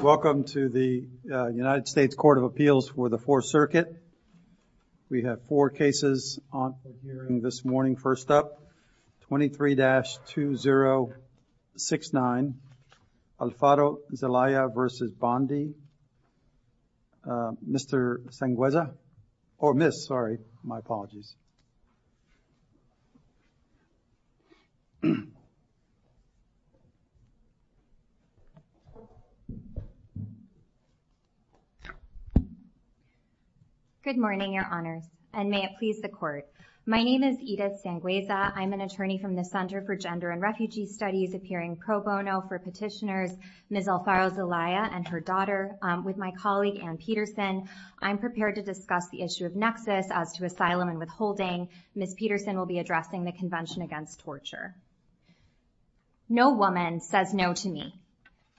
Welcome to the United States Court of Appeals for the Fourth Circuit. We have four cases on this morning. First up, 23-2069, Alfaro-Zelaya v. Bondi. Mr. Sangueza, or Miss, sorry, my apologies. Edith Sangueza Good morning, Your Honors, and may it please the Court. My name is Edith Sangueza. I'm an attorney from the Center for Gender and Refugee Studies appearing pro bono for petitioners, Miss Alfaro-Zelaya and her daughter, with my colleague Anne Peterson. I'm prepared to discuss the issue of nexus as to asylum and withholding. Miss Peterson will be addressing the Convention Against Torture. No woman says no to me.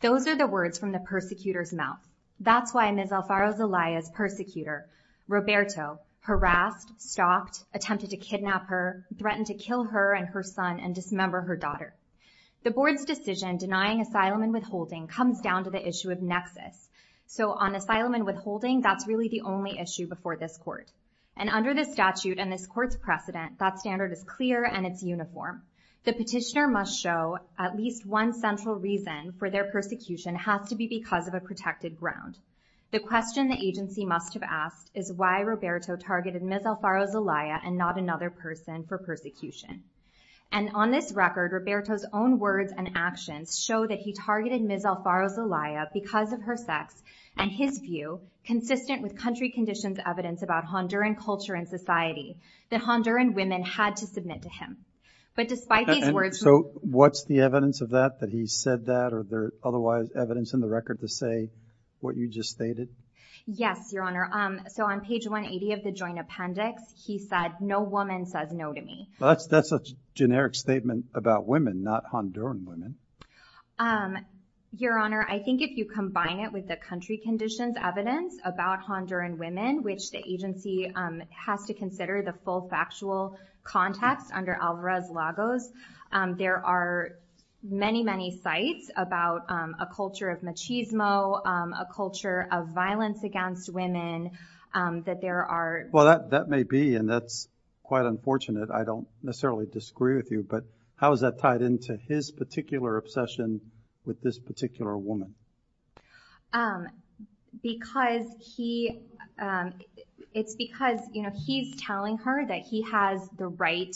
Those are the words from the persecutor's mouth. That's why Miss Alfaro-Zelaya's persecutor, Roberto, harassed, stopped, attempted to kidnap her, threatened to kill her and her son and dismember her daughter. The Board's decision denying asylum and withholding comes down to the issue of nexus. So on asylum and withholding, that's really the only issue before this Court. And under the statute and this Court's precedent, that standard is clear and it's uniform. The petitioner must show at least one central reason for their persecution has to be because of a protected ground. The question the agency must have asked is why Roberto targeted Miss Alfaro-Zelaya and not another person for persecution. And on this record, Roberto's own words and actions show that he targeted Miss Alfaro-Zelaya because of her sex and his view, consistent with country conditions evidence about Honduran culture and society, that Honduran women had to submit to him. But despite these words... And so what's the evidence of that, that he said that, or there otherwise evidence in the record to say what you just stated? Yes, Your Honor. So on page 180 of the joint appendix, he said, no woman says no to me. That's a generic statement about women, not Honduran women. Your Honor, I think if you combine it with the country conditions evidence about Honduran women, which the agency has to consider the full factual context under Alvarez-Lagos, there are many, many sites about a culture of machismo, a culture of violence against women that there are... Well, that may be, and that's quite unfortunate. I don't necessarily disagree with you, but how is that tied into his particular obsession with this particular woman? It's because he's telling her that he has the right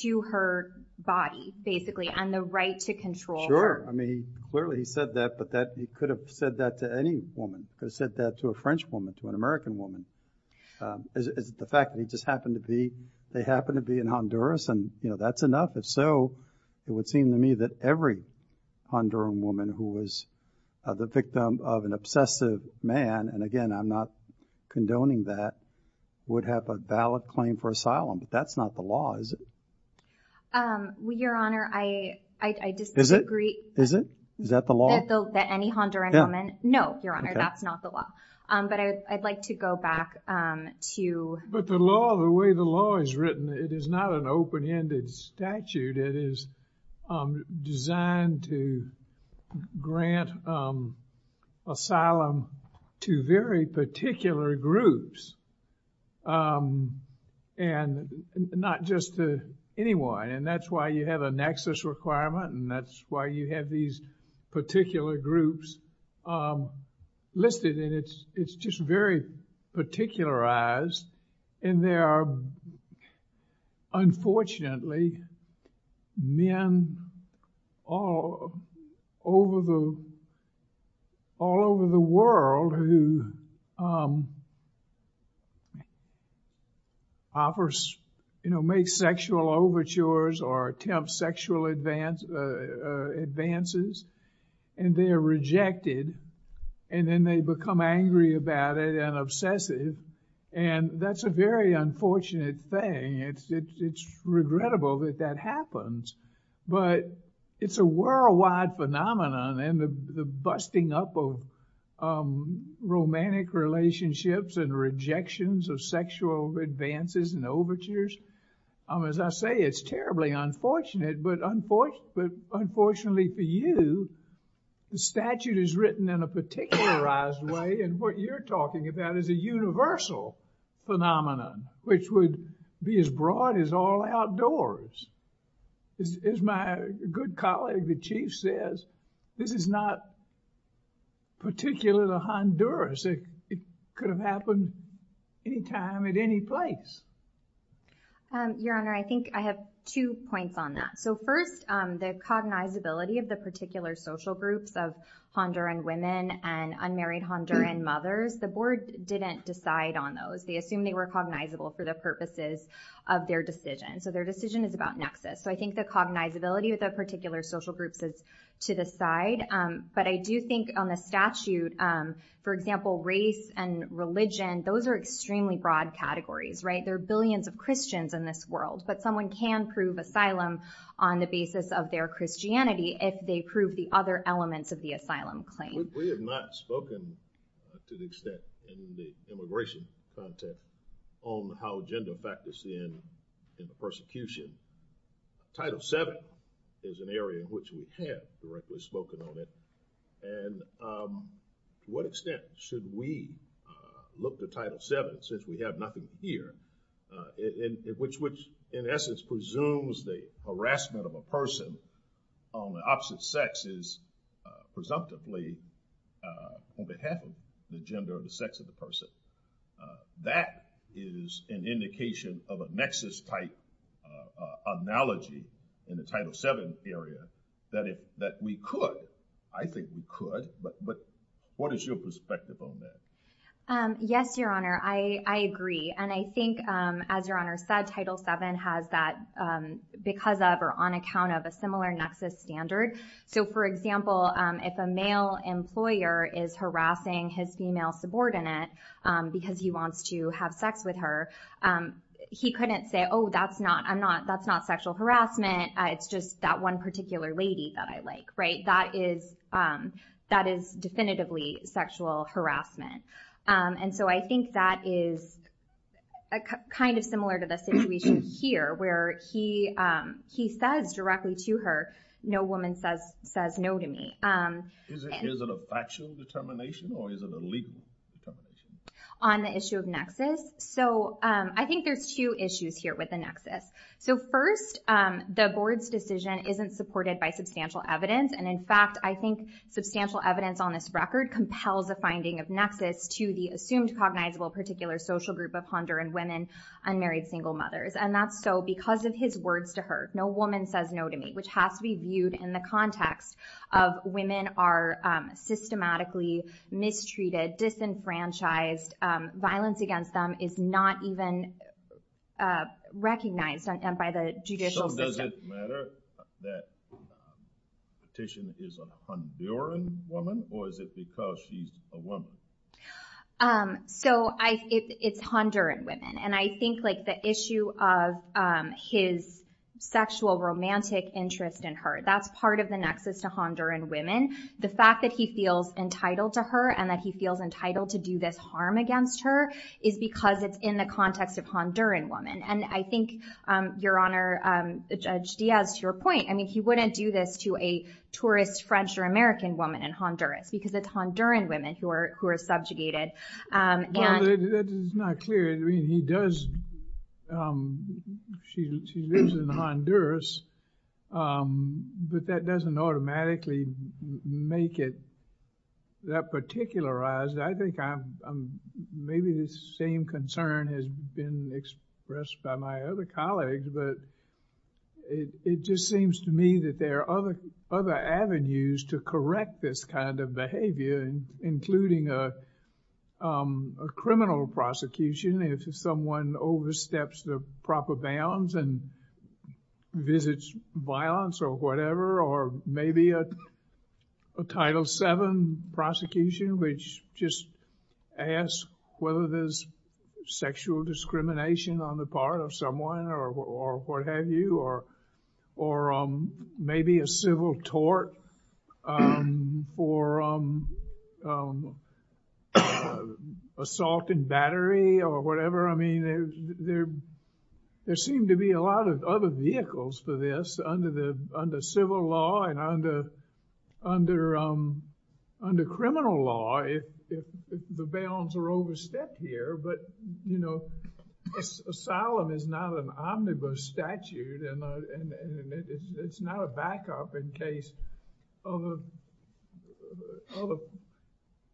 to her body, basically, and the right to control her. Sure. I mean, clearly he said that, but he could have said that to any woman, could have the fact that he just happened to be, they happened to be in Honduras, and that's enough. If so, it would seem to me that every Honduran woman who was the victim of an obsessive man, and again, I'm not condoning that, would have a valid claim for asylum, but that's not the law, is it? Your Honor, I disagree. Is it? Is that the law? Any Honduran woman? No, Your Honor, that's not the law. But I'd like to go back to the But the law, the way the law is written, it is not an open-ended statute. It is designed to grant asylum to very particular groups, and not just to anyone, and that's why you have a nexus requirement, and that's why you have these particular groups listed, and it's just very particularized, and there are, unfortunately, men all over the world who offer, you know, make sexual overtures or attempt sexual advances, and they are rejected, and then they become angry about it and obsessive, and that's a very unfortunate thing. It's regrettable that that happens, but it's a worldwide phenomenon, and the busting up of romantic relationships and rejections of sexual advances and overtures, as I say, it's terribly unfortunate, but unfortunately for you, the statute is written in a particularized way, and what you're talking about is a universal phenomenon, which would be as broad as all outdoors. As my good colleague, the Chief, says, this is not particular to Honduras. It could have happened any time at any place. Your Honor, I think I have two points on that. So first, the cognizability of the particular social groups of Honduran women and unmarried Honduran mothers, the board didn't decide on those. They assumed they were cognizable for the purposes of their decision, so their decision is about nexus, so I think the cognizability of the particular social groups is to the side, but I do think on the statute, for example, race and religion, those are extremely broad categories, right? There are billions of Christians in this world, but someone can prove asylum on the basis of their Christianity if they prove the other elements of the asylum claim. We have not spoken to the extent in the immigration context on how gender factors in the persecution. Title VII is an area in which we have directly spoken on it, and to what extent should we look to Title VII, since we have nothing here, which in essence presumes the harassment of a person on the opposite sex is presumptively on behalf of the gender of the sex of the person. That is an indication of a nexus-type analogy in the Title VII area that we could, I think we could, but what is your perspective on that? Yes, Your Honor, I agree, and I think as Your Honor said, Title VII has that because of or on account of a similar nexus standard, so for example, if a male employer is harassing his female subordinate because he wants to have sex with her, he couldn't say, oh, that's not, I'm not, that's not sexual harassment, it's just that one particular lady that I work with, right, that is definitively sexual harassment, and so I think that is kind of similar to the situation here, where he says directly to her, no woman says no to me. Is it a factual determination, or is it a legal determination? On the issue of nexus, so I think there's two issues here with the nexus. So first, the board's decision isn't supported by substantial evidence, and in fact, I think substantial evidence on this record compels a finding of nexus to the assumed cognizable particular social group of Honduran women, unmarried single mothers, and that's so because of his words to her, no woman says no to me, which has to be viewed in the context of women are systematically mistreated, disenfranchised, violence against them is not even recognized by the judicial system. So does it matter that the petition is a Honduran woman, or is it because she's a woman? So it's Honduran women, and I think the issue of his sexual romantic interest in her, that's part of the nexus to Honduran women. The fact that he feels entitled to her, and that he feels entitled to do this harm against her, is because it's in the context of Honduran women, and I think, Your Honor, Judge Diaz, to your point, I mean, he wouldn't do this to a tourist French or American woman in Honduras, because it's Honduran women who are subjugated, and... Well, that is not clear. I mean, he does, she lives in Honduras, but that doesn't automatically make it that particularized. I think I'm, maybe the same concern has been expressed by my other colleagues, but it just seems to me that there are other avenues to correct this kind of behavior, including a criminal prosecution, if someone oversteps the proper bounds and visits violence or whatever, or maybe a Title VII prosecution, which just asks whether there's sexual discrimination on the part of someone, or what have you, or maybe a civil tort, or assault and battery, or whatever. I mean, there seem to be a lot of other vehicles for this under civil law, and under criminal law, if the basis of the grounds are overstepped here, but, you know, asylum is not an omnibus statute, and it's not a backup in case of a,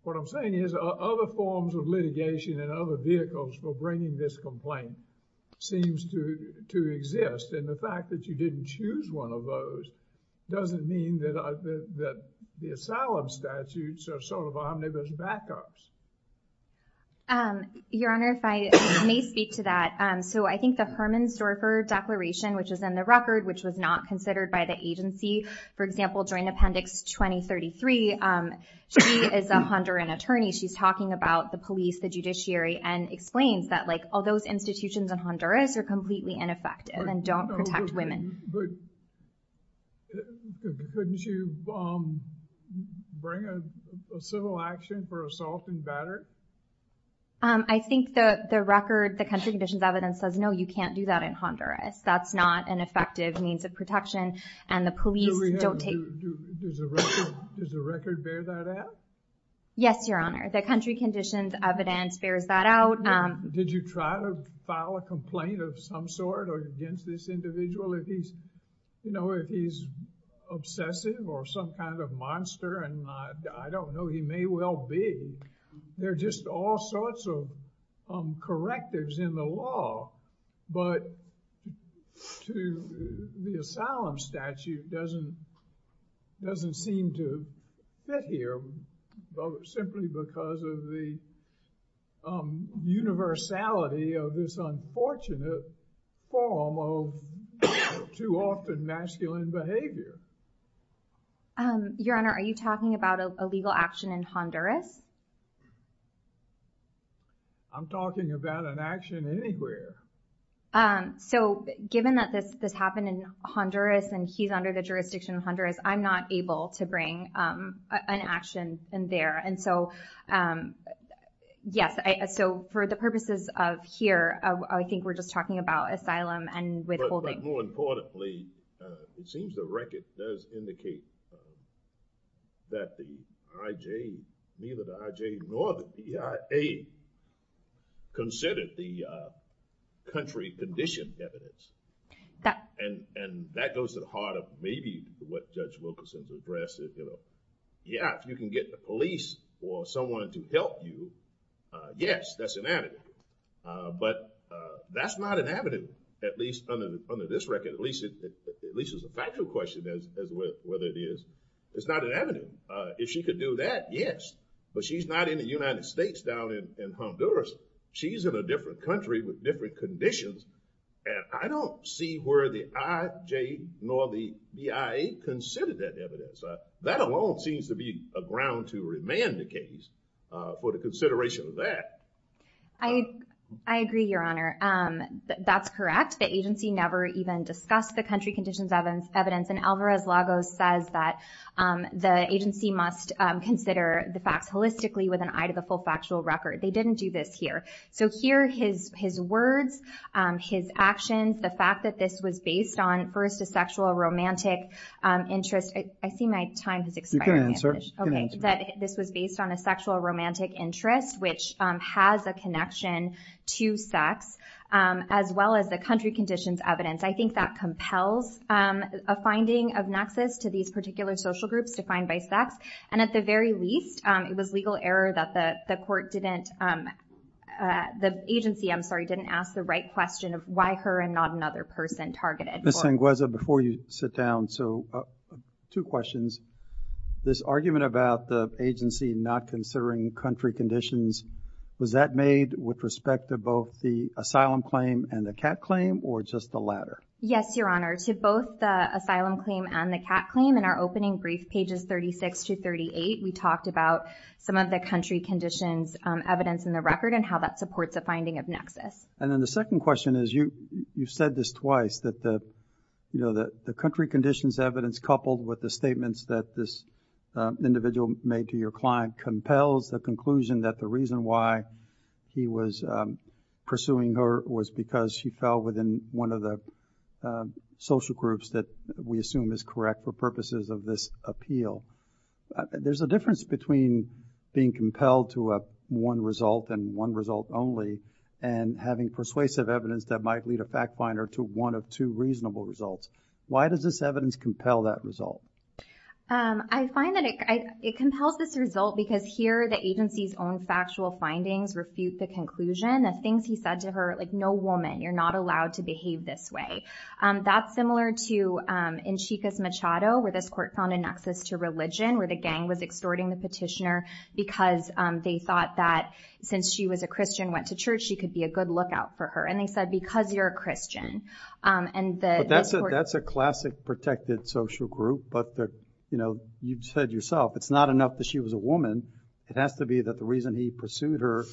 what I'm saying is, other forms of litigation and other vehicles for bringing this complaint seems to exist, and the fact that you didn't choose one of those doesn't mean that the asylum statutes are sort of omnibus backups. Your Honor, if I may speak to that, so I think the Herman Storfer Declaration, which is in the record, which was not considered by the agency, for example, Joint Appendix 2033, she is a Honduran attorney, she's talking about the police, the judiciary, and explains that all those institutions in Honduras are completely ineffective and don't protect women. But couldn't you bring a civil action for assault and battery? I think the record, the country conditions evidence says, no, you can't do that in Honduras. That's not an effective means of protection, and the police don't take... Does the record bear that out? Yes, Your Honor. The country conditions evidence bears that out. Did you try to file a complaint of some sort against this individual? If he's obsessive or some kind of monster, and I don't know, he may well be. There are just all sorts of correctives in the law, but the asylum statute doesn't seem to fit here, simply because of the universality of this unfortunate form of too often masculine behavior. Your Honor, are you talking about a legal action in Honduras? I'm talking about an action anywhere. So, given that this happened in Honduras and he's under the jurisdiction of Honduras, I'm not able to bring an action in there. And so, yes. So, for the purposes of here, I think we're just talking about asylum and withholding. But more importantly, it seems the record does indicate that the IJ, neither the IJ nor the PIA considered the country condition evidence. And that goes to the heart of maybe what Judge Wilkerson has addressed. Yeah, if you can get the police or someone to help you, yes, that's an avenue. But that's not an avenue, at least under this record. At least it's a factual question as to whether it is. It's not an avenue. If she could do that, yes. But she's not in the United States down in Honduras. She's in a different country with different conditions. And I don't see where the IJ nor the PIA considered that evidence. That alone seems to be a ground to remand the case for the consideration of that. I agree, Your Honor. That's correct. The agency never even discussed the country conditions evidence. And Alvarez-Lagos says that the agency must consider the facts holistically with an eye to the full factual record. They didn't do this here. So here, his words, his actions, the fact that this was based on, first, a sexual romantic interest. I see my time is expiring. This was based on a sexual romantic interest, which has a connection to sex, as well as the country conditions evidence. I think that compels a finding of nexus to these particular social groups defined by sex. And at the very least, it was legal error that the agency didn't ask the right question of why her and not another person targeted. Ms. Sangueza, before you sit down, two questions. This argument about the agency not considering country conditions, was that made with respect to both the asylum claim and the CAT claim, or just the latter? Yes, Your Honor. To both the asylum claim and the CAT claim, in our opening brief, pages 36 to 38, we talked about some of the country conditions evidence in the record and how that supports a finding of nexus. And then the second question is, you've said this twice, that the country conditions evidence coupled with the statements that this individual made to your client compels the conclusion that the reason why he was pursuing her was because she fell within one of the social groups that we assume is correct for purposes of this appeal. There's a difference between being compelled to one result and one result only and having persuasive evidence that might lead a fact finder to one of two reasonable results. Why does this evidence compel that result? I find that it compels this result because here the agency's own factual findings refute the conclusion. The things he said to her, like, no woman, you're not allowed to behave this way. That's similar to in Chica's Machado, where this court found a nexus to religion, where the gang was extorting the petitioner because they thought that since she was a Christian and went to church, she could be a good lookout for her. And they said, because you're a Christian. That's a classic protected social group, but you said yourself, it's not enough that she was a woman. It has to be that the reason he pursued her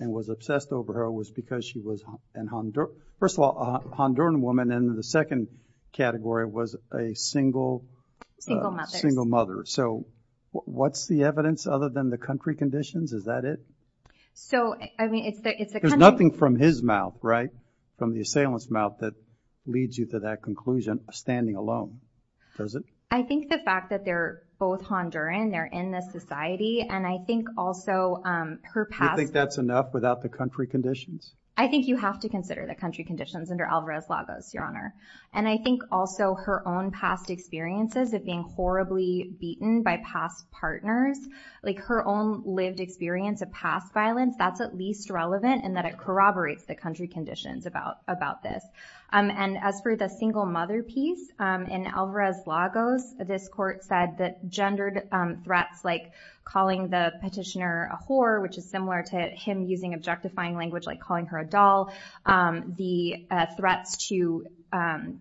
and was obsessed over her was because she was a Honduran woman. And the second category was a single mother. So what's the evidence other than the country conditions? Is that it? So, I mean, it's the country. There's nothing from his mouth, right, from the assailant's mouth, that leads you to that conclusion of standing alone, does it? I think the fact that they're both Honduran, they're in this society, and I think also her past. You think that's enough without the country conditions? I think you have to consider the country conditions under Alvarez-Lagos, Your Honor. And I think also her own past experiences of being horribly beaten by past partners, like her own lived experience of past violence, that's at least relevant in that it corroborates the country conditions about this. And as for the single mother piece, in Alvarez-Lagos, this court said that gendered threats like calling the petitioner a whore, which is similar to him using objectifying language like calling her a doll, the threats to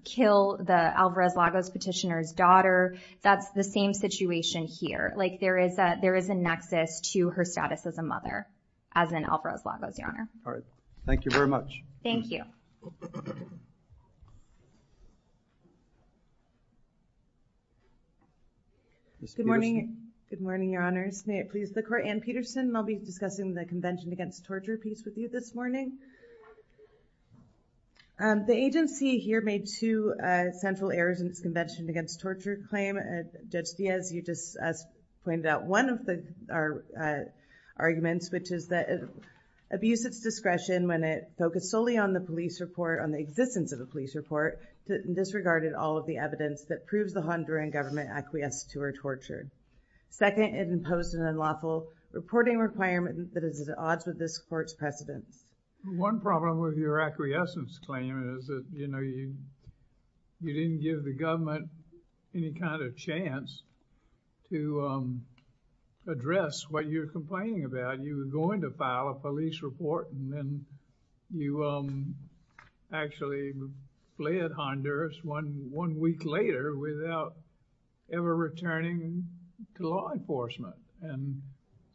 kill the Alvarez-Lagos petitioner's daughter, that's the same situation here. Like there is a nexus to her status as a mother, as in Alvarez-Lagos, Your Honor. All right. Thank you very much. Thank you. Good morning. Good morning, Your Honors. May it please the Court. Anne Peterson, and I'll be discussing the Convention Against Torture piece with you this morning. The agency here made two central errors in its Convention Against Torture claim. Judge Diaz, you just pointed out one of the arguments, which is that it abused its discretion when it focused solely on the police report, on the existence of the police report, disregarded all of the evidence that proves the Honduran government acquiesced to her torture. Second, it imposed an unlawful reporting requirement that is at odds with this court's precedents. One problem with your acquiescence claim is that, you know, you didn't give the government any kind of chance to address what you're complaining about. You were going to file a police report, and then you actually fled Honduras one week later without ever returning to law enforcement. And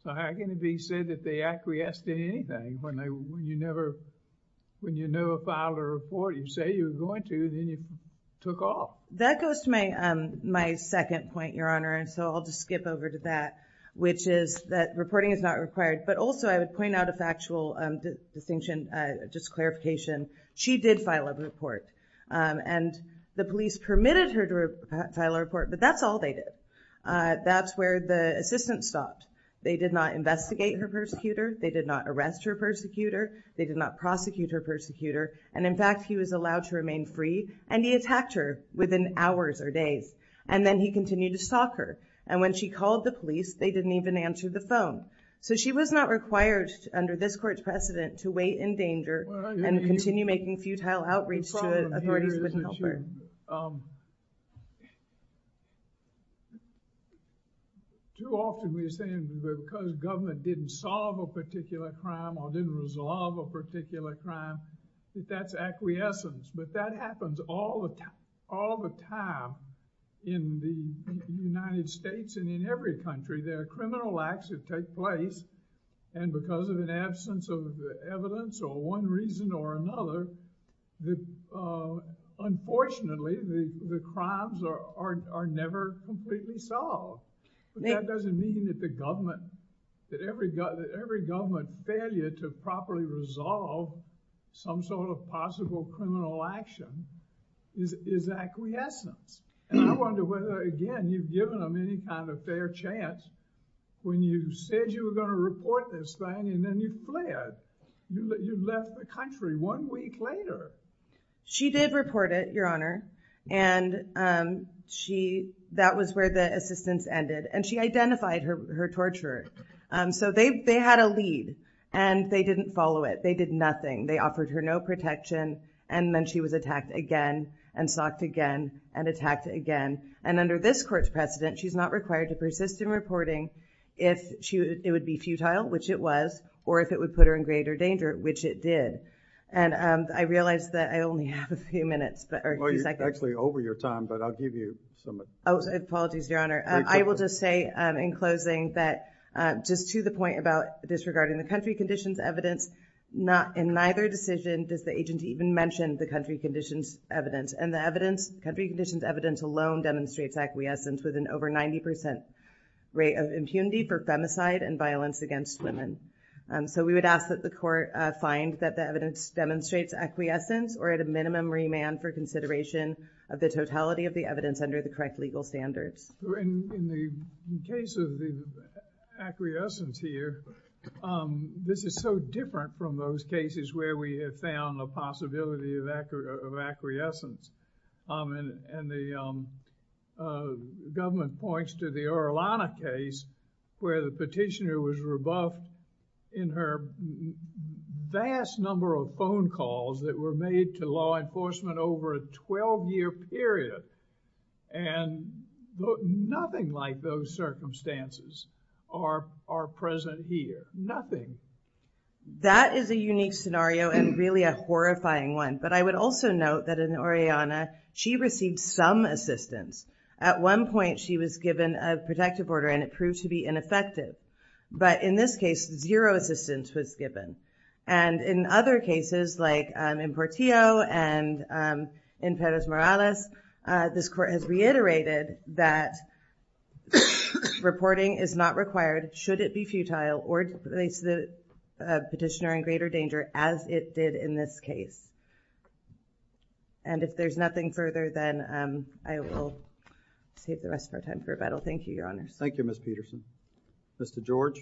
so, how can it be said that they acquiesced in anything when you never, when you never filed a report you say you were going to, then you took off? That goes to my second point, Your Honor, and so I'll just skip over to that, which is that reporting is not required, but also I would point out a factual distinction, just clarification. She did file a report, and the police permitted her to file a report, but that's all they did. That's where the assistance stopped. They did not investigate her persecutor. They did not arrest her persecutor. They did not prosecute her persecutor. And in fact, he was allowed to remain free, and he attacked her within hours or days, and then he continued to stalk her. And when she called the police, they didn't even answer the phone. So she was not required under this court's precedent to wait in danger and continue making futile outreach to authorities that couldn't help her. Too often we're saying because government didn't solve a particular crime or didn't resolve a particular crime, that that's acquiescence, but that happens all the time in the United States and in every country. There are criminal acts that take place, and because of an absence of evidence or one reason or another, unfortunately the crimes are never completely solved. But that doesn't mean that the government, that every government failure to properly resolve some sort of possible criminal action is acquiescence. And I wonder whether, again, you've given them any kind of fair chance when you said you were going to report this thing and then you fled. You left the country one week later. She did report it, Your Honor, and that was where the assistance ended, and she identified her torturer. So they had a lead, and they didn't follow it. They did nothing. They offered her no protection, and then she was attacked again and stalked again and attacked again. And under this court's precedent, she's not required to persist in reporting if it would be futile, which it was, or if it would put her in greater danger, which it did. And I realize that I only have a few minutes, or a few seconds. Well, you're actually over your time, but I'll give you some. Apologies, Your Honor. I will just say in closing that just to the point about disregarding the country conditions evidence, in neither decision does the agent even mention the country conditions evidence. And the evidence, country conditions evidence alone, demonstrates acquiescence with an over 90% rate of impunity for femicide and violence against women. So we would ask that the court find that the evidence demonstrates acquiescence or at a minimum remand for consideration of the totality of the evidence under the correct legal standards. In the case of the acquiescence here, this is so different from those cases where we have found a possibility of acquiescence. And the government points to the Orellana case where the petitioner was rebuffed in her vast number of phone calls that were made to law enforcement over a 12-year period. And nothing like those circumstances are present here. Nothing. That is a unique scenario and really a horrifying one. But I would also note that in Orellana, she received some assistance. At one point, she was given a protective order, and it proved to be ineffective. But in this case, zero assistance was given. And in other cases like in Portillo and in Perez Morales, this court has reiterated that reporting is not required should it be futile or place the petitioner in greater danger as it did in this case. And if there's nothing further, then I will save the rest of our time for rebuttal. Thank you, Your Honor. Thank you, Ms. Peterson. Mr. George.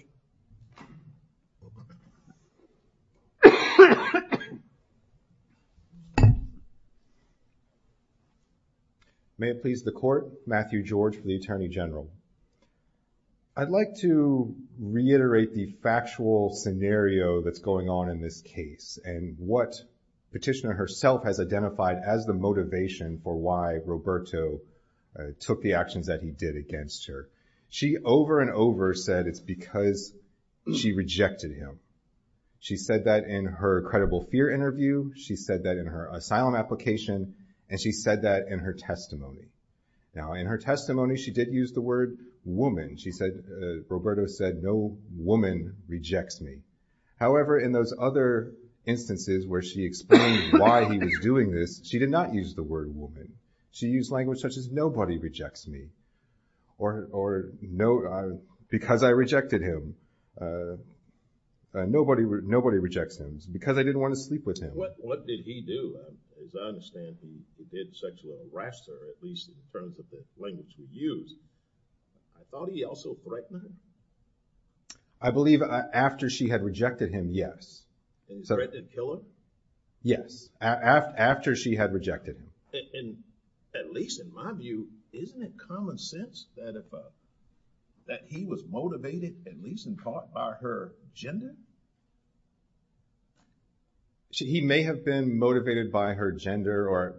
May it please the court. Matthew George for the Attorney General. I'd like to reiterate the factual scenario that's going on in this case and what petitioner herself has identified as the motivation for why Roberto took the actions that he did against her. She over and over said it's because she rejected him. She said that in her credible fear interview. She said that in her asylum application, and she said that in her testimony. Now, in her testimony, she did use the word woman. She said, Roberto said, no woman rejects me. However, in those other instances where she explained why he was doing this, she did not use the word woman. She used language such as nobody rejects me because I rejected him. Nobody rejects him because I didn't want to sleep with him. What did he do? As I understand, he did sexual harass her, at least in terms of the language he used. I thought he also threatened her. I believe after she had rejected him, yes. He threatened to kill her? Yes, after she had rejected him. At least in my view, isn't it common sense that he was motivated, at least in thought, by her gender? He may have been motivated by her gender.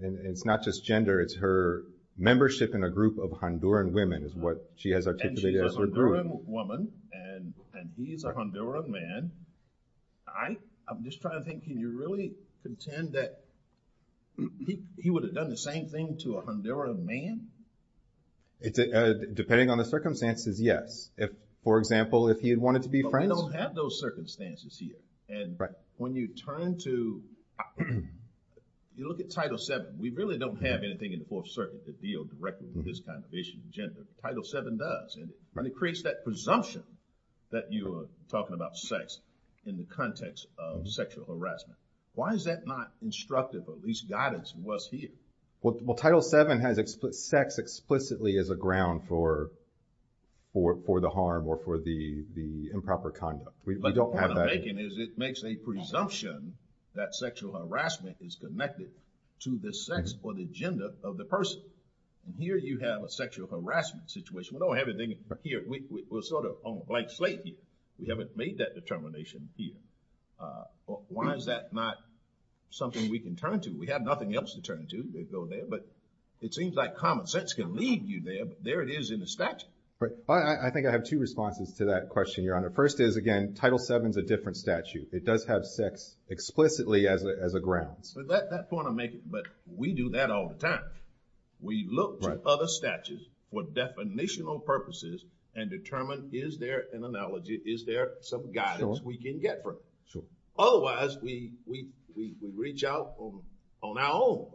It's not just gender. It's her membership in a group of Honduran women is what she has articulated as her group. She's a Honduran woman, and he's a Honduran man. I'm just trying to think, can you really contend that he would have done the same thing to a Honduran man? Depending on the circumstances, yes. For example, if he had wanted to be friends? But we don't have those circumstances here. When you turn to, you look at Title VII, we really don't have anything in the Fourth Circuit that deals directly with this kind of issue, gender. Title VII does, and it creates that presumption that you are talking about sex in the context of sexual harassment. Why is that not instructive, or at least guidance, in what's here? Well, Title VII has sex explicitly as a ground for the harm or for the improper conduct. But what I'm making is it makes a presumption that sexual harassment is connected to the sex or the gender of the person. And here you have a sexual harassment situation. We don't have anything here. We're sort of on a blank slate here. We haven't made that determination here. Why is that not something we can turn to? We have nothing else to turn to. But it seems like common sense can lead you there, but there it is in the statute. I think I have two responses to that question, Your Honor. First is, again, Title VII is a different statute. It does have sex explicitly as a ground. But we do that all the time. We look to other statutes for definitional purposes and determine, is there an analogy, is there some guidance we can get from it? Otherwise, we reach out on our own,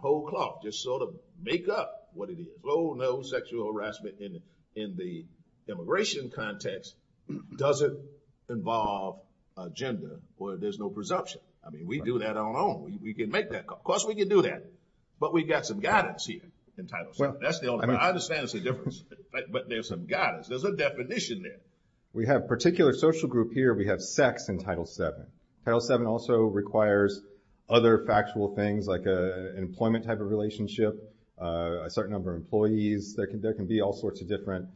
hold clock, just sort of make up what it is. Oh, no, sexual harassment in the immigration context doesn't involve gender where there's no presumption. I mean, we do that on our own. We can make that call. Of course, we can do that. But we've got some guidance here in Title VII. I understand it's a difference, but there's some guidance. There's a definition there. We have a particular social group here. We have sex in Title VII. Title VII also requires other factual things like an employment type of relationship, a certain number of employees. There can be all sorts of different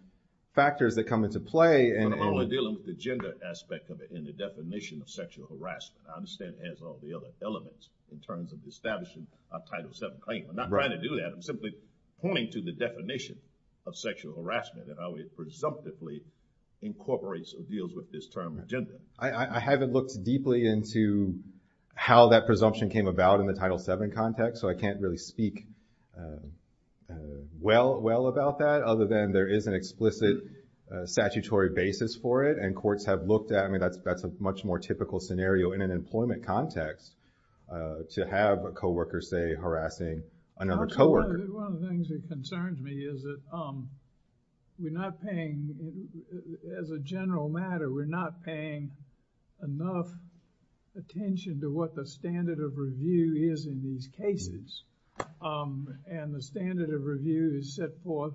factors that come into play. But I'm only dealing with the gender aspect of it and the definition of sexual harassment. I understand it has all the other elements in terms of establishing a Title VII claim. I'm not trying to do that. I'm simply pointing to the definition of sexual harassment and how it presumptively incorporates or deals with this term, gender. I haven't looked deeply into how that presumption came about in the Title VII context. So I can't really speak well about that other than there is an explicit statutory basis for it. And courts have looked at it. I mean, that's a much more typical scenario in an employment context to have a co-worker, say, another co-worker. One of the things that concerns me is that we're not paying, as a general matter, we're not paying enough attention to what the standard of review is in these cases. And the standard of review is set forth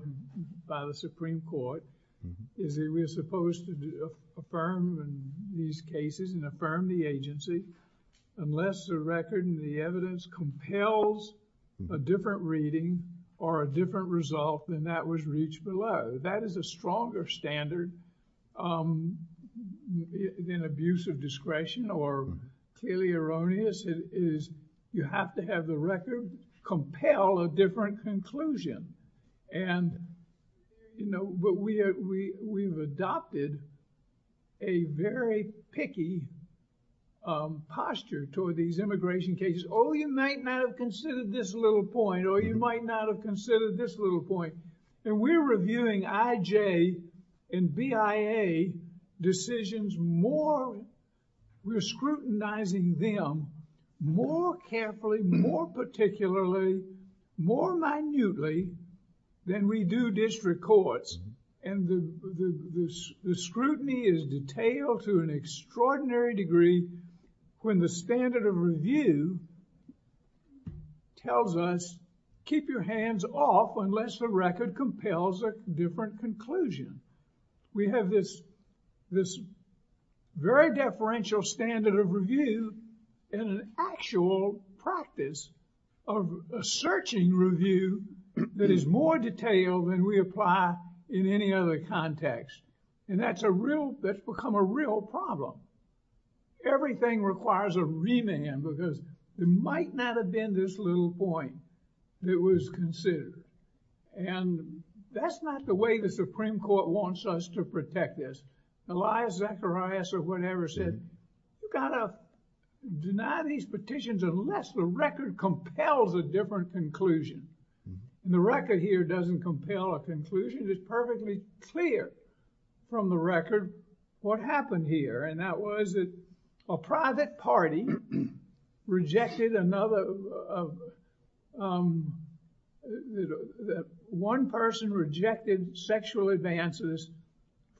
by the Supreme Court is that we're supposed to affirm these cases and affirm the agency unless the record and the evidence compels a different reading or a different result than that was reached below. That is a stronger standard than abuse of discretion or clearly erroneous is you have to have the record compel a different conclusion. And, you know, but we've adopted a very picky posture toward these immigration cases. Oh, you might not have considered this little point, or you might not have considered this little point. And we're reviewing IJ and BIA decisions more, we're scrutinizing them more carefully, more particularly, more minutely than we do district courts. And the scrutiny is detailed to an extraordinary degree when the standard of review tells us keep your hands off unless the record compels a different conclusion. We have this very deferential standard of review and an actual practice of searching review that is more detailed than we apply in any other context. And that's become a real problem. Everything requires a remand because there might not have been this little point that was considered. And that's not the way the Supreme Court wants us to protect this. Elias Zacharias or whatever said you've got to deny these petitions unless the record compels a different conclusion. And the record here doesn't compel a conclusion. The statute is perfectly clear from the record what happened here. And that was that a private party rejected another, one person rejected sexual advances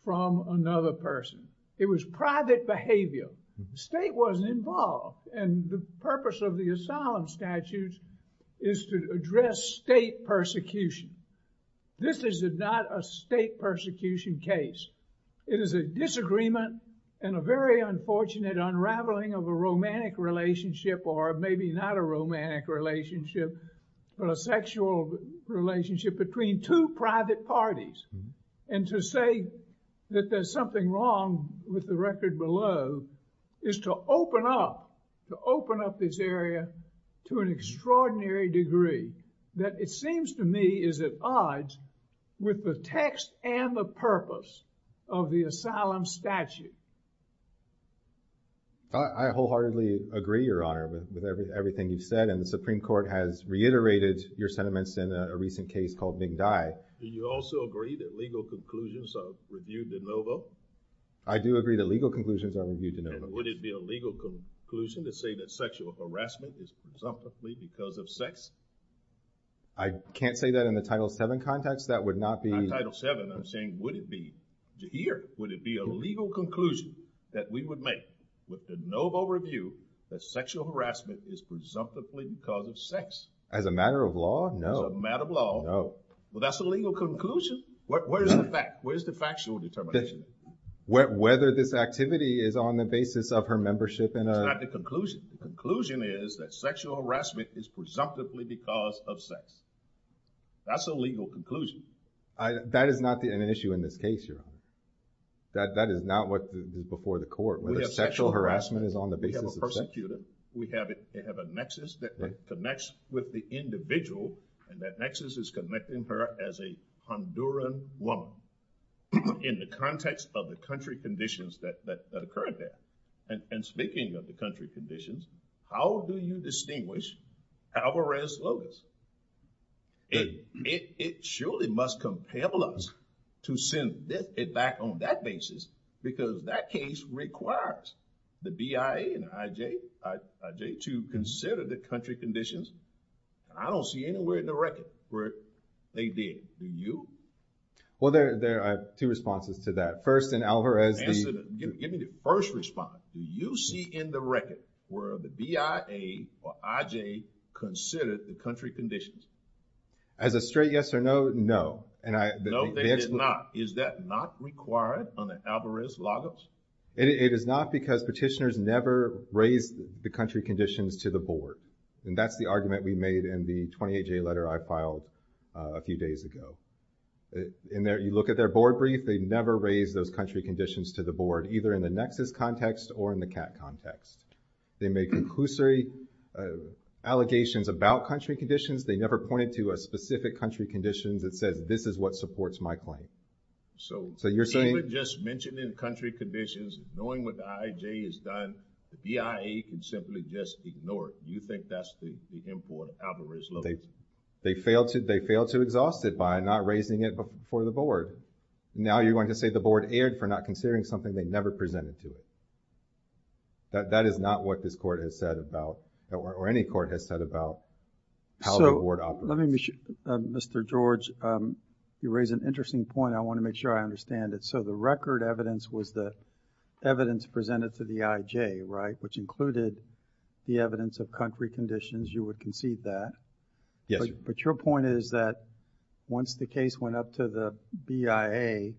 from another person. It was private behavior. The state wasn't involved. And the purpose of the asylum statute is to address state persecution. This is not a state persecution case. It is a disagreement and a very unfortunate unraveling of a romantic relationship or maybe not a romantic relationship but a sexual relationship between two private parties. And to say that there's something wrong with the record below is to open up, to open up this area to an extraordinary degree that it seems to me is at odds with the text and the purpose of the asylum statute. I wholeheartedly agree, Your Honor, with everything you've said. And the Supreme Court has reiterated your sentiments in a recent case called McDie. Do you also agree that legal conclusions are reviewed de novo? I do agree that legal conclusions are reviewed de novo. And would it be a legal conclusion to say that sexual harassment is presumptively because of sex? I can't say that in the Title VII context. That would not be... In Title VII, I'm saying, would it be, to hear, would it be a legal conclusion that we would make with de novo review that sexual harassment is presumptively because of sex? As a matter of law, no. As a matter of law. No. Well, that's a legal conclusion. Where's the fact? Where's the factual determination? Whether this activity is on the basis of her membership in a... That's not the conclusion. The conclusion is that sexual harassment is presumptively because of sex. That's a legal conclusion. That is not an issue in this case, Your Honor. That is not what's before the court, whether sexual harassment is on the basis of sex. We have a persecutor. We have a nexus that connects with the individual. And that nexus is connecting her as a Honduran woman in the context of the country conditions that occurred there. And speaking of the country conditions, how do you distinguish Alvarez-Lopez? It surely must compel us to send it back on that basis because that case requires the BIA and IJ to consider the country conditions. I don't see anywhere in the record where they did. Well, there are two responses to that. First, in Alvarez... Give me the first response. Do you see in the record where the BIA or IJ considered the country conditions? As a straight yes or no, no. No, they did not. Is that not required under Alvarez-Lopez? It is not because petitioners never raise the country conditions to the board. And that's the argument we made in the 28-J letter I filed a few days ago. You look at their board brief, they never raised those country conditions to the board, either in the Nexus context or in the CAT context. They made conclusory allegations about country conditions. They never pointed to a specific country condition that says this is what supports my claim. So you're saying... They would just mention in country conditions, knowing what the IJ has done, the BIA could simply just ignore it. Do you think that's the import of Alvarez-Lopez? They failed to exhaust it by not raising it for the board. Now you're going to say the board erred for not considering something they never presented to it. That is not what this court has said about, or any court has said about, how the board operates. Mr. George, you raise an interesting point. I want to make sure I understand it. So the record evidence was the evidence presented to the IJ, right, which included the evidence of country conditions. You would concede that. But your point is that once the case went up to the BIA,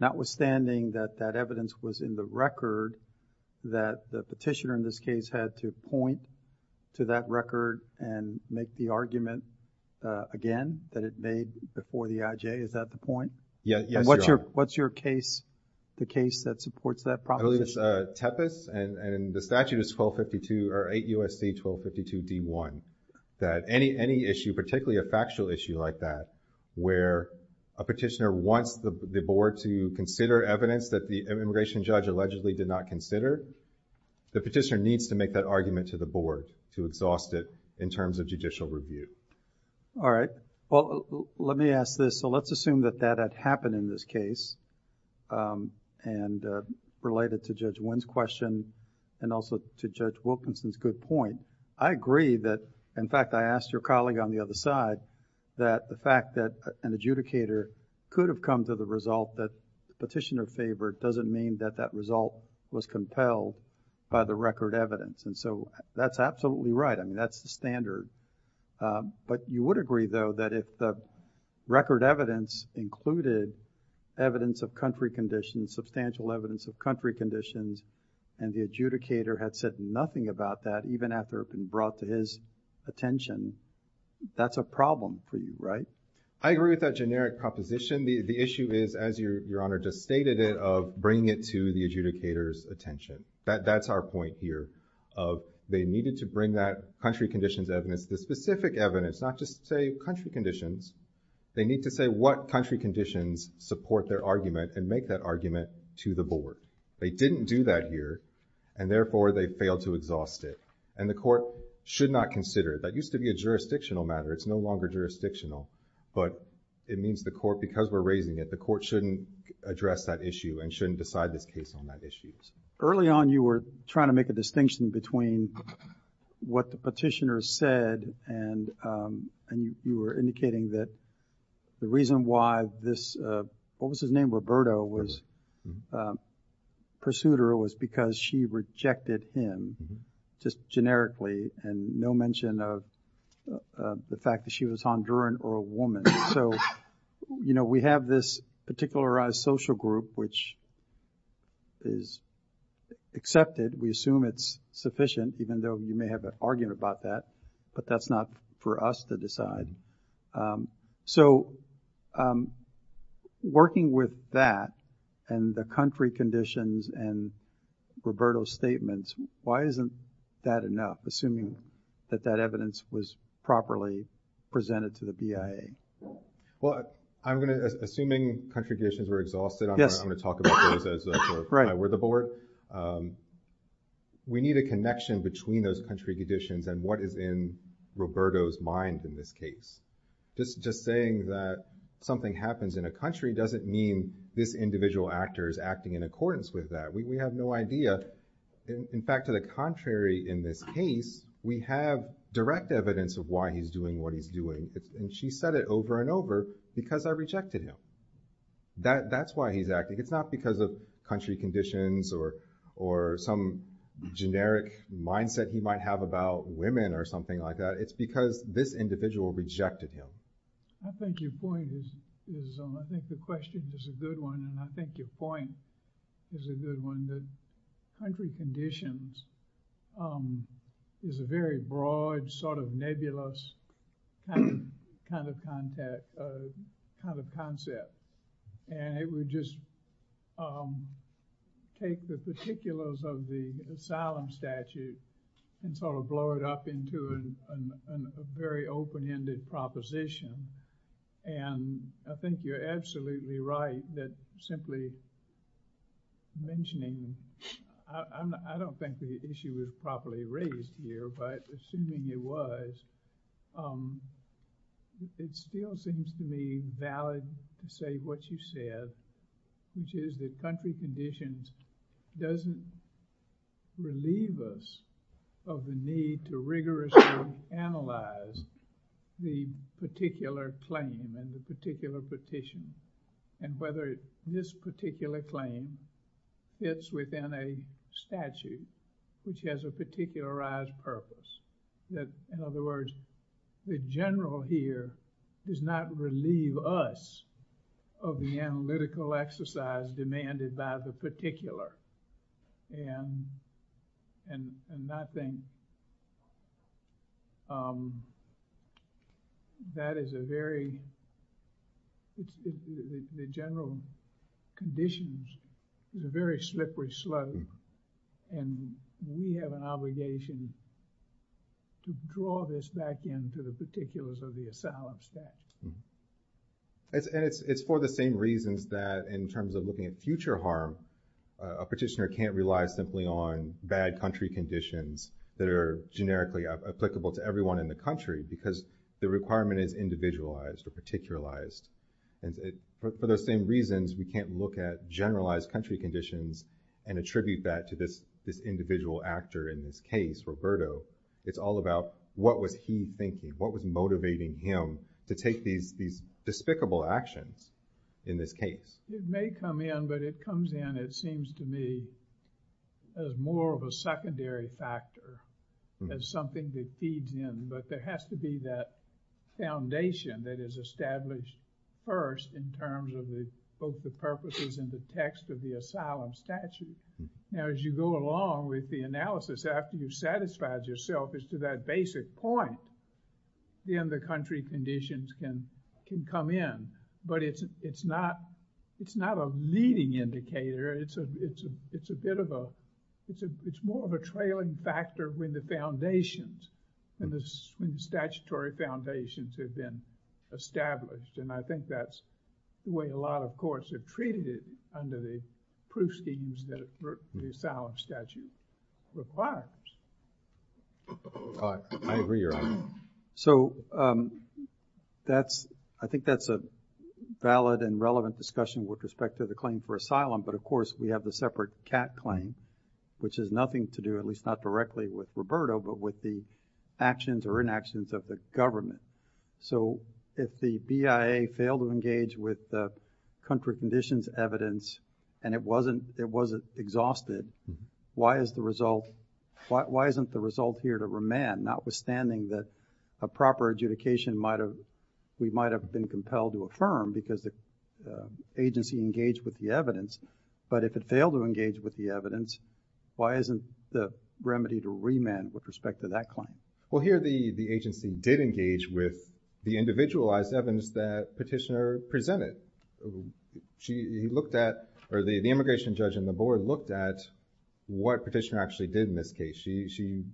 notwithstanding that that evidence was in the record that the petitioner in this case had to point to that record and make the argument again that it made before the IJ, is that the point? Yes, Your Honor. What's your case, the case that supports that proposition? I believe it's Tepes, and the statute is 1252, or 8 U.S.C. 1252 D.1, that any issue, particularly a factual issue like that where a petitioner wants the board to consider evidence that the immigration judge allegedly did not consider, the petitioner needs to make that argument to the board to exhaust it in terms of judicial review. All right. Well, let me ask this. So let's assume that that had happened in this case and related to Judge Wynn's question and also to Judge Wilkinson's good point. I agree that, in fact, I asked your colleague on the other side that the fact that an adjudicator could have come to the result that the petitioner favored doesn't mean that that result was compelled by the record evidence. And so that's absolutely right. I mean, that's the standard. But you would agree, though, that if the record evidence included evidence of country conditions, substantial evidence of country conditions, and the adjudicator had said nothing about that, even after it had been brought to his attention, that's a problem for you, right? I agree with that generic proposition. The issue is, as Your Honor just stated it, of bringing it to the adjudicator's attention. That's our point here of they needed to bring that country conditions evidence, the specific evidence, not just, say, country conditions. They need to say what country conditions support their argument and make that argument to the board. They didn't do that here. And therefore, they failed to exhaust it. And the court should not consider it. That used to be a jurisdictional matter. It's no longer jurisdictional. But it means the court, because we're raising it, the court shouldn't address that issue and shouldn't decide this case on that issue. Early on, you were trying to make a distinction between what the petitioner said and you were indicating that the reason why this, what was his name, Roberto, pursued her was because she rejected him, just generically, and no mention of the fact that she was Honduran or a woman. So we have this particularized social group, which is accepted. We assume it's sufficient, even though you may have an argument about that. But that's not for us to decide. So working with that and the country conditions and Roberto's statements, why isn't that enough, assuming that that evidence was properly presented to the BIA? Well, I'm going to, assuming country conditions were exhausted, I'm going to talk about those as if I were the board. We need a connection between those country conditions and what is in Roberto's mind in this case. Just saying that something happens in a country doesn't mean this individual actor is acting in accordance with that. We have no idea. In fact, to the contrary in this case, we have direct evidence of why he's doing what he's doing. And she said it over and over because I rejected him. That's why he's acting. It's not because of country conditions or some generic mindset he might have about women or something like that. It's because this individual rejected him. I think your point is, I think the question is a good one. And I think your point is a good one. The country conditions is a very broad sort of nebulous kind of concept. And it would just take the particulars of the asylum statute and sort of blow it up into a very open-ended proposition. And I think you're absolutely right that simply mentioning, I don't think the issue is properly raised here, but assuming it was, it still seems to me valid to say what you said, which is that country conditions doesn't relieve us of the need to rigorously analyze the particular claim and the particular petition and whether this particular claim fits within a statute which has a particularized purpose. In other words, the general here does not relieve us of the analytical exercise demanded by the particular. And I think that is a very, the general conditions is a very slippery slope. And we have an obligation to draw this back into the particulars of the asylum statute. And it's for the same reasons that in terms of looking at future harm, a petitioner can't rely simply on bad country conditions that are generically applicable to everyone in the country because the requirement is individualized or particularized. And for those same reasons, we can't look at generalized country conditions and attribute that to this individual actor in this case, Roberto. It's all about what was he thinking, what was motivating him to take these despicable actions in this case. It may come in, but it comes in, it seems to me, as more of a secondary factor, as something that feeds in. But there has to be that foundation that is established first in terms of both the purposes and the text of the asylum statute. As you go along with the analysis after you've satisfied yourself as to that basic point, then the country conditions can come in. But it's not a leading indicator. It's a bit of a, it's more of a trailing factor when the foundations and the statutory foundations have been established. And I think that's the way a lot of courts have treated it under the proof schemes that the asylum statute requires. I agree, Your Honor. So I think that's a valid and relevant discussion with respect to the claim for asylum. But of course, we have the separate CAT claim, which has nothing to do, at least not directly with Roberto, but with the actions or inactions of the government. So if the BIA failed to engage with the country conditions evidence, and it wasn't exhausted, why isn't the result here to remand, notwithstanding that a proper adjudication we might have been compelled to affirm because the agency engaged with the evidence? But if it failed to engage with the evidence, why isn't the remedy to remand with respect to that claim? Well, here the agency did engage with the individualized evidence that Petitioner presented. She looked at, or the immigration judge and the board looked at what Petitioner actually did in this case. She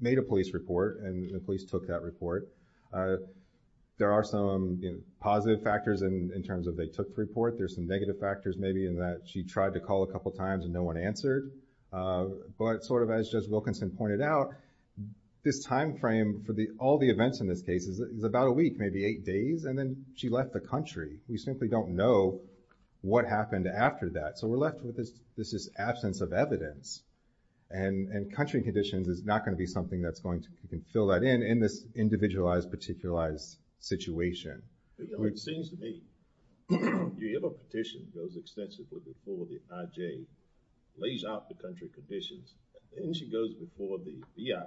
made a police report, and the police took that report. There are some positive factors in terms of they took the report. There are some negative factors, maybe, in that she tried to call a couple times, and no one answered. But sort of as Judge Wilkinson pointed out, this time frame for all the events in this case is about a week, maybe eight days. And then she left the country. We simply don't know what happened after that. So we're left with this absence of evidence. And country conditions is not going to be something that's going to fill that in in this individualized, particularized situation. It seems to me, if a petition goes extensively before the IJ, lays out the country conditions, and then she goes before the EIA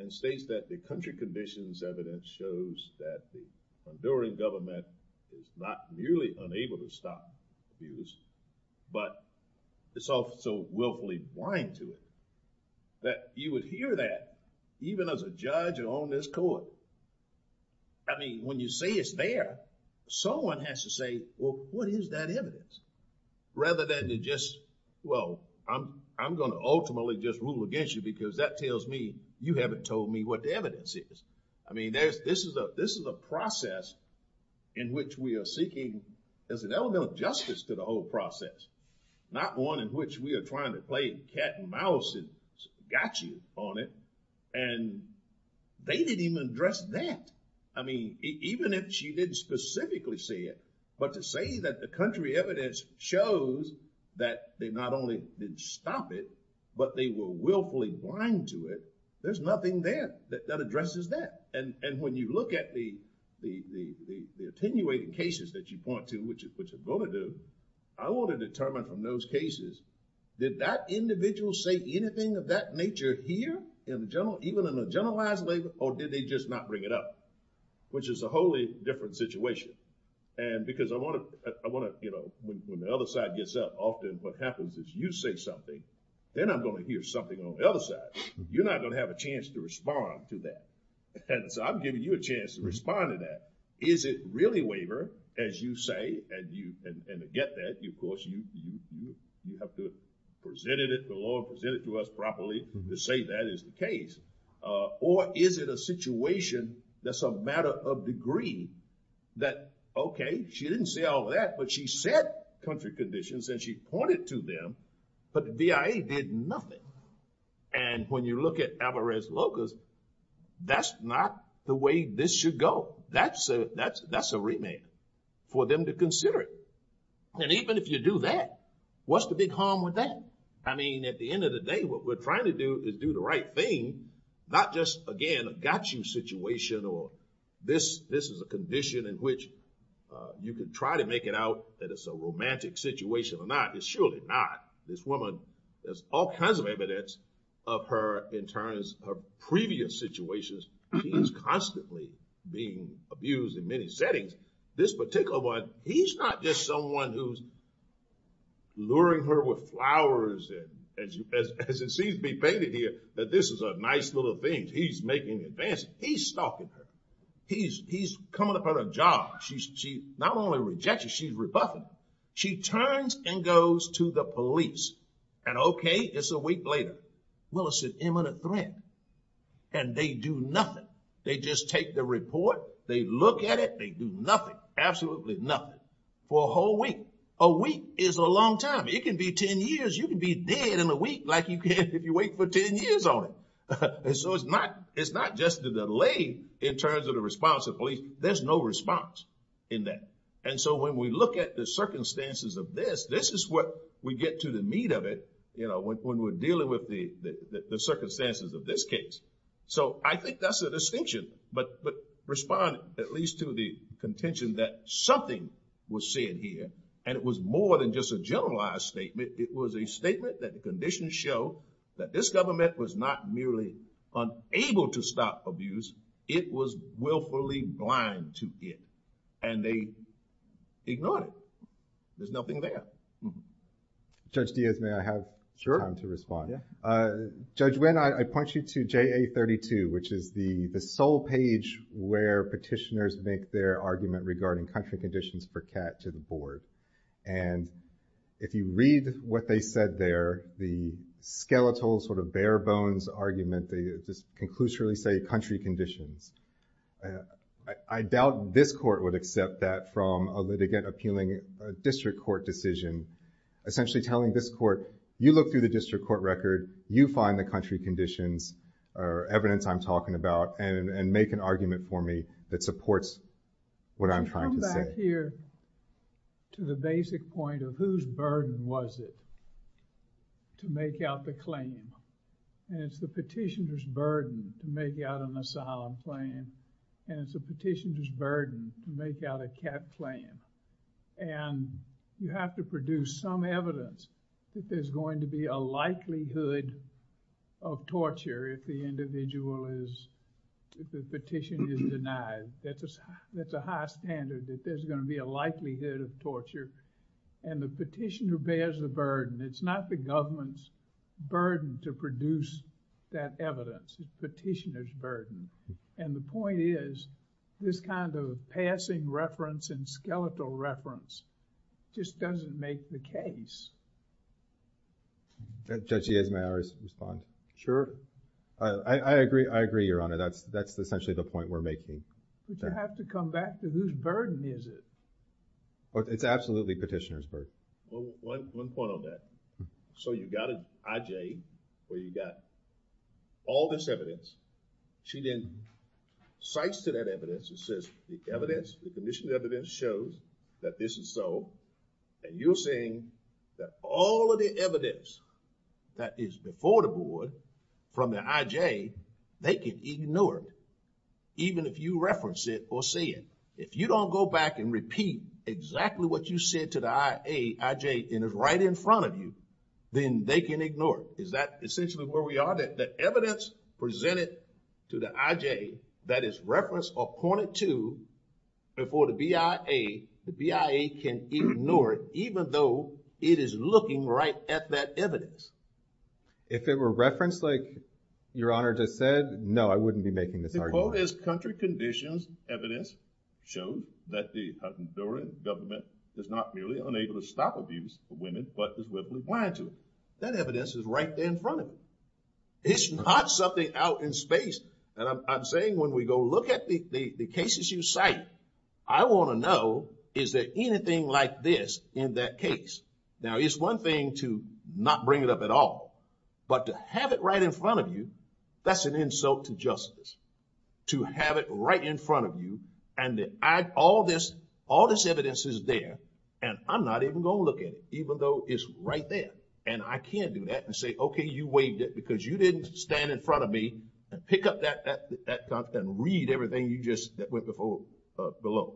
and states that the country conditions evidence shows that the Honduran government is not merely unable to stop abuse, but it's also willfully blind to it, that you would hear that even as a judge on this court. I mean, when you say it's there, someone has to say, well, what is that evidence? Rather than to just, well, I'm going to ultimately just rule against you because that tells me you haven't told me what the evidence is. I mean, this is a process in which we are seeking, as an element of justice to the whole process, not one in which we are trying to play cat and mouse and got you on it. And they didn't even address that. I mean, even if she didn't specifically say it, but to say that the country evidence shows that they not only didn't stop it, but they were willfully blind to it, there's nothing there that addresses that. And when you look at the attenuating cases that you point to, which is what you're going to do, I want to determine from those cases, did that individual say anything of that nature here? Even in a generalized waiver, or did they just not bring it up? Which is a wholly different situation. And because I want to, you know, when the other side gets up, often what happens is you say something, then I'm going to hear something on the other side. You're not going to have a chance to respond to that. And so I'm giving you a chance to respond to that. Is it really waiver, as you say, and to get that, of course, you have to present it to us properly to say that is the case. Or is it a situation that's a matter of degree that, okay, she didn't say all that, but she said country conditions, and she pointed to them, but the VIA did nothing. And when you look at Alvarez Locos, that's not the way this should go. That's a remand for them to consider it. And even if you do that, what's the big harm with that? I mean, at the end of the day, what we're trying to do is do the right thing, not just, again, a got you situation or this is a condition in which you can try to make it out that it's a romantic situation or not. It's surely not. This woman, there's all kinds of evidence of her in terms of previous situations. She's constantly being abused in many settings. This particular one, he's not just someone who's luring her with flowers, as it seems to be painted here, that this is a nice little thing. He's making advances. He's stalking her. He's coming up on her job. She not only rejects it, she's rebuffing it. She turns and goes to the police, and okay, it's a week later. Well, it's an imminent threat, and they do nothing. They just take the report. They look at it. They do nothing, absolutely nothing for a whole week. A week is a long time. It can be 10 years. You can be dead in a week like you can if you wait for 10 years on it. And so it's not just the delay in terms of the response of police. There's no response in that. And so when we look at the circumstances of this, this is what we get to the meat of it when we're dealing with the circumstances of this case. So I think that's a distinction. But respond at least to the contention that something was said here, and it was more than just a generalized statement. It was a statement that the conditions show that this government was not merely unable to stop abuse. It was willfully blind to it, and they ignored it. There's nothing there. Judge Diaz, may I have time to respond? Judge Nguyen, I point you to JA32, which is the sole page where petitioners make their argument regarding country conditions for CAT to the board. And if you read what they said there, the skeletal sort of bare bones argument, they just conclusively say country conditions. I doubt this court would accept that from a litigant appealing a district court decision, essentially telling this court, you look through the district court record, you find the country conditions or evidence I'm talking about, and make an argument for me that supports what I'm trying to say. I come back here to the basic point of whose burden was it to make out the claim. And it's the petitioner's burden to make out an asylum claim, and it's the petitioner's burden to make out a CAT claim. And you have to produce some evidence that there's going to be a likelihood of torture if the individual is, if the petition is denied. That's a high standard, that there's going to be a likelihood of torture. And the petitioner bears the burden. It's not the government's burden to produce that evidence. It's the petitioner's burden. And the point is, this kind of passing reference and skeletal reference just doesn't make the case. Judge Yeas, may I respond? Sure. I agree. I agree, Your Honor. That's essentially the point we're making. But you have to come back to whose burden is it. It's absolutely petitioner's burden. One point on that. So you got an IJ where you got all this evidence. She then cites to that evidence and says, the evidence, the commission evidence shows that this is so. And you're saying that all of the evidence that is before the board from the IJ, they can ignore it, even if you reference it or say it. If you don't go back and repeat exactly what you said to the IJ and it's right in front of you, then they can ignore it. Is that essentially where we are? The evidence presented to the IJ that is referenced or pointed to before the BIA, the BIA can ignore it, even though it is looking right at that evidence. If it were referenced like Your Honor just said, no, I wouldn't be making this argument. The quote is, country conditions evidence shows that the Honduran government is not merely unable to stop abuse of women, but is weakly blind to it. That evidence is right there in front of you. It's not something out in space. And I'm saying when we go look at the cases you cite, I want to know is there anything like this in that case. Now it's one thing to not bring it up at all, but to have it right in front of you, that's an insult to justice. To have it right in front of you and all this evidence is there and I'm not even going to look at it, even though it's right there. And I can't do that and say, okay, you waived it because you didn't stand in front of me and pick up that document and read everything you just went before below.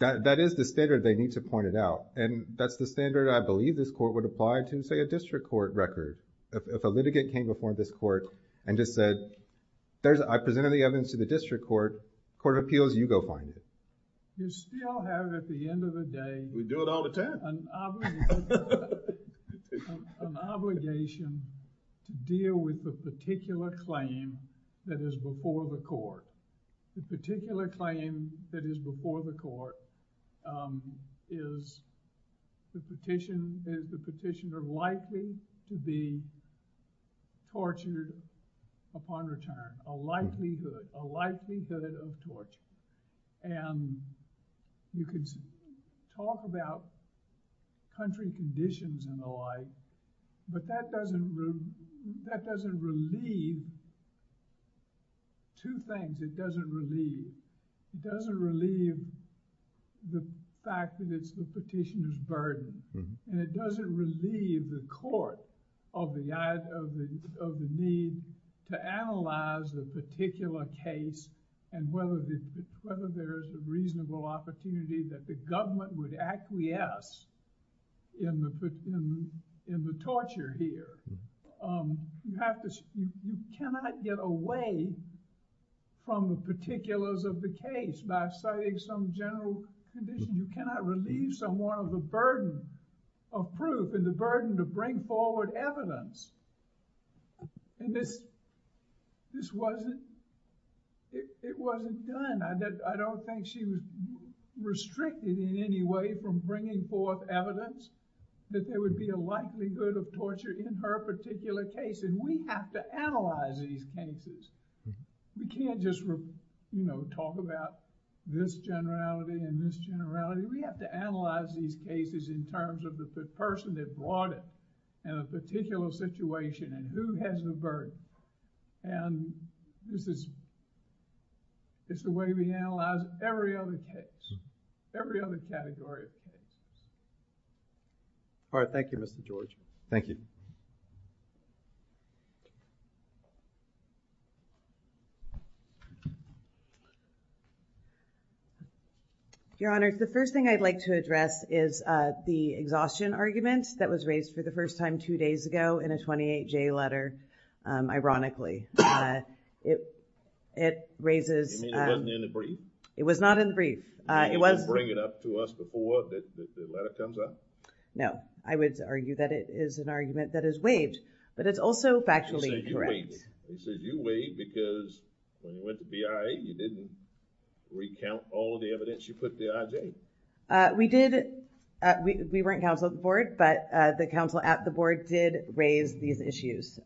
That is the standard they need to point it out. And that's the standard I believe this court would apply to, say, a district court record. If a litigant came before this court and just said, I presented the evidence to the district court, court of appeals, you go find it. You still have at the end of the day an obligation to deal with the particular claim that is before the court. The particular claim that is before the court is the petitioner likely to be tortured upon return. A likelihood, a likelihood of torture. And you can talk about country conditions and the like, but that doesn't relieve two things. It doesn't relieve the fact that it's the petitioner's burden and it doesn't relieve the fact that the court has a particular case and whether there's a reasonable opportunity that the government would acquiesce in the torture here. You cannot get away from the particulars of the case by citing some general condition. You cannot relieve someone of the burden of proof and the burden to bring forward evidence. And this, this wasn't, it wasn't done. I don't think she was restricted in any way from bringing forth evidence that there would be a likelihood of torture in her particular case. And we have to analyze these cases. We can't just, you know, talk about this generality and this generality. We have to analyze these cases in terms of the person that brought it up in a particular situation and who has the burden. And this is, it's the way we analyze every other case, every other category of case. All right. Thank you, Mr. George. Thank you. Your Honor, the first thing I'd like to address is the exhaustion argument that was raised for the first time two days ago in a 28-J letter. Ironically, it raises... You mean it wasn't in the brief? It was not in the brief. It was... You mean they didn't bring it up to us before the letter comes up? No. I would argue that it is an argument that is waived, but it's also factually incorrect. You said you waived it. You said you waived because when you went to BIA, you didn't recount all of the evidence you put to IJ. We did. We weren't counsel of the board, but the counsel at the board did raise these issues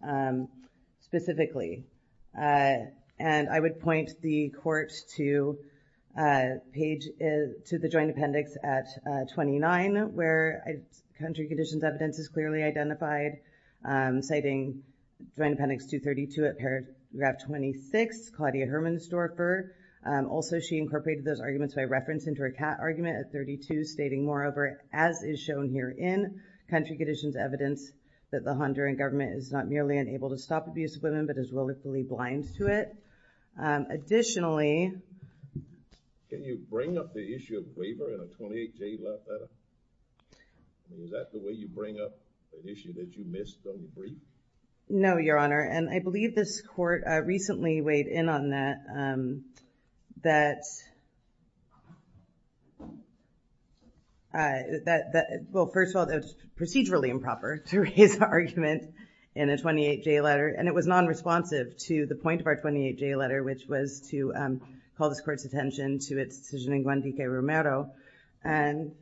specifically. And I would point the court to the joint appendix at 29, where country conditions evidence is clearly identified, citing Joint Appendix 232 at paragraph 26, Claudia Herman Storfer. Also, she incorporated those arguments by reference into her cat argument at 32, stating, moreover, as is shown here in country conditions evidence, that the Honduran government is not merely unable to stop abuse of women, but is willfully blind to it. Additionally... Can you bring up the issue of waiver in a 28-J letter? Was that the way you bring up an issue that you missed on the brief? No, Your Honor. And I believe this court recently weighed in on that. Well, first of all, it was procedurally improper to raise an argument in a 28-J letter, and it was nonresponsive to the point of our 28-J letter, which was to call this court's attention to its decision in Guantique Romero. And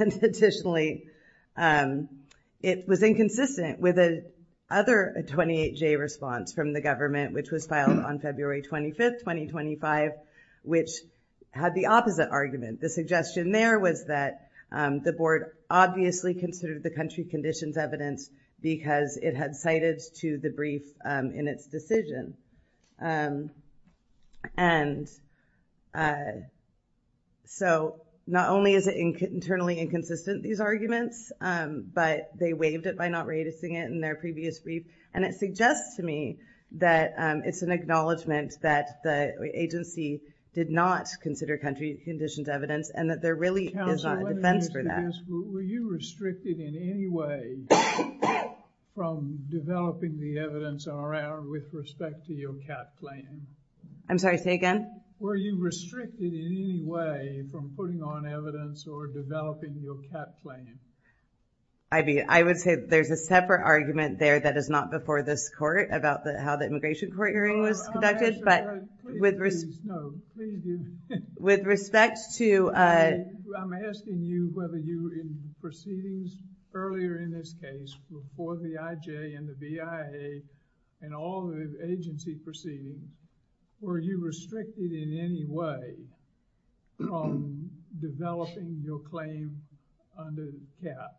additionally, it was inconsistent with another 28-J response from the government, which was filed on February 25, 2025, which had the opposite argument. The suggestion there was that the board obviously considered the country conditions evidence because it had cited to the brief in its decision. And so not only is it internally inconsistent, these arguments, but they waived it by not raising it in their previous brief. And it suggests to me that it's an acknowledgment that the agency did not consider country conditions evidence and that there really is not a defense for that. Counsel, let me get to this. Were you restricted in any way from developing the evidence around with respect to your CAT plan? I'm sorry, say again? Were you restricted in any way from putting on evidence or developing your CAT plan? I would say there's a separate argument there that is not before this court about how the immigration court hearing was conducted, but with respect to... I'm asking you whether you, in proceedings earlier in this case, before the IJ and the BIA and all the agency proceedings, were you restricted in any way from developing your claim under CAT?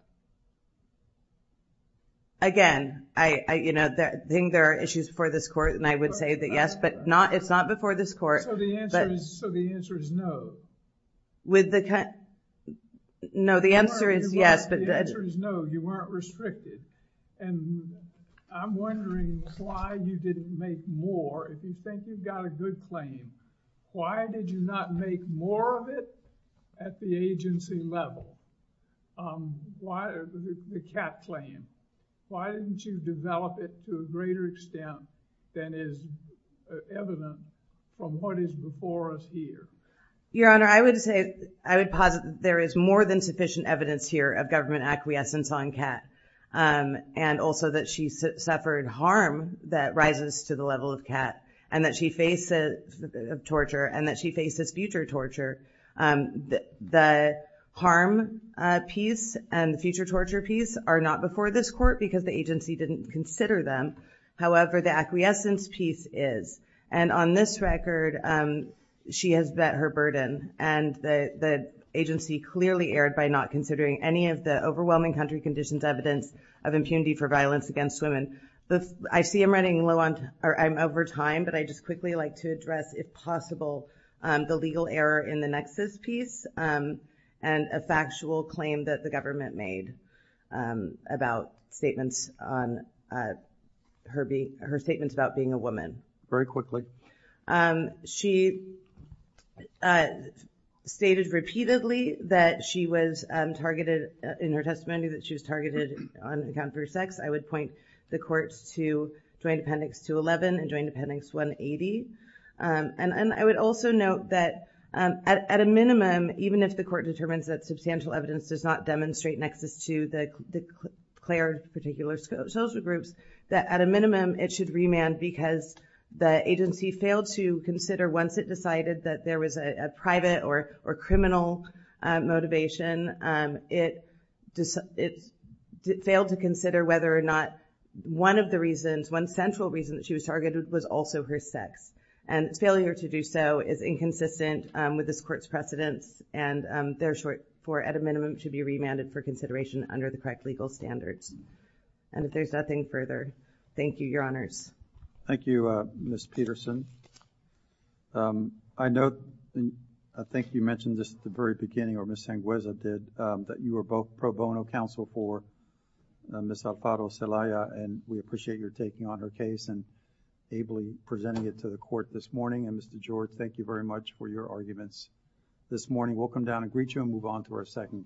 Again, I think there are issues before this court, and I would say that yes, but it's not before this court. So the answer is no? With the... No, the answer is yes, but... The answer is no, you weren't restricted. And I'm wondering why you didn't make more. If you think you've got a good claim, why did you not make more of it at the agency level? Why the CAT plan? Why didn't you develop it to a greater extent than is evident from what is before us here? Your Honor, I would say, I would posit that there is more than sufficient evidence here of government acquiescence on CAT, and also that she suffered harm that rises to the level of CAT, and that she faces torture, and that she faces future torture. The harm piece and the future torture piece are not before this court because the agency didn't consider them. However, the acquiescence piece is. And on this record, she has vet her burden, and the agency clearly erred by not considering any of the overwhelming country conditions evidence of impunity for violence against women. I see I'm running low on time, or I'm over time, but I'd just quickly like to address, if possible, the legal error in the nexus piece and a factual claim that the government made about statements on her statements about being a woman. Very quickly. She stated repeatedly that she was targeted in her testimony, that she was targeted on account of her sex. I would point the courts to Joint Appendix 211 and Joint Appendix 180. And I would also note that, at a minimum, even if the court determines that substantial evidence does not demonstrate nexus to the declared particular social groups, that, at a minimum, it should remand because the agency failed to consider, once it decided that there was a private or criminal motivation, it failed to consider whether or not one of the reasons, one central reason that she was targeted was also her sex. And failure to do so is inconsistent with this court's precedence, and therefore, at a minimum, should be remanded for consideration under the correct legal standards. And if there's nothing further, thank you, Your Honors. Thank you, Ms. Peterson. I note, and I think you mentioned this at the very beginning, or Ms. Sangueza did, that you are both pro bono counsel for Ms. Alfaro Celaya, and we appreciate your taking on her case and ably presenting it to the court this morning. And, Mr. George, thank you very much for your arguments this morning. We'll come down and greet you and move on to our second case.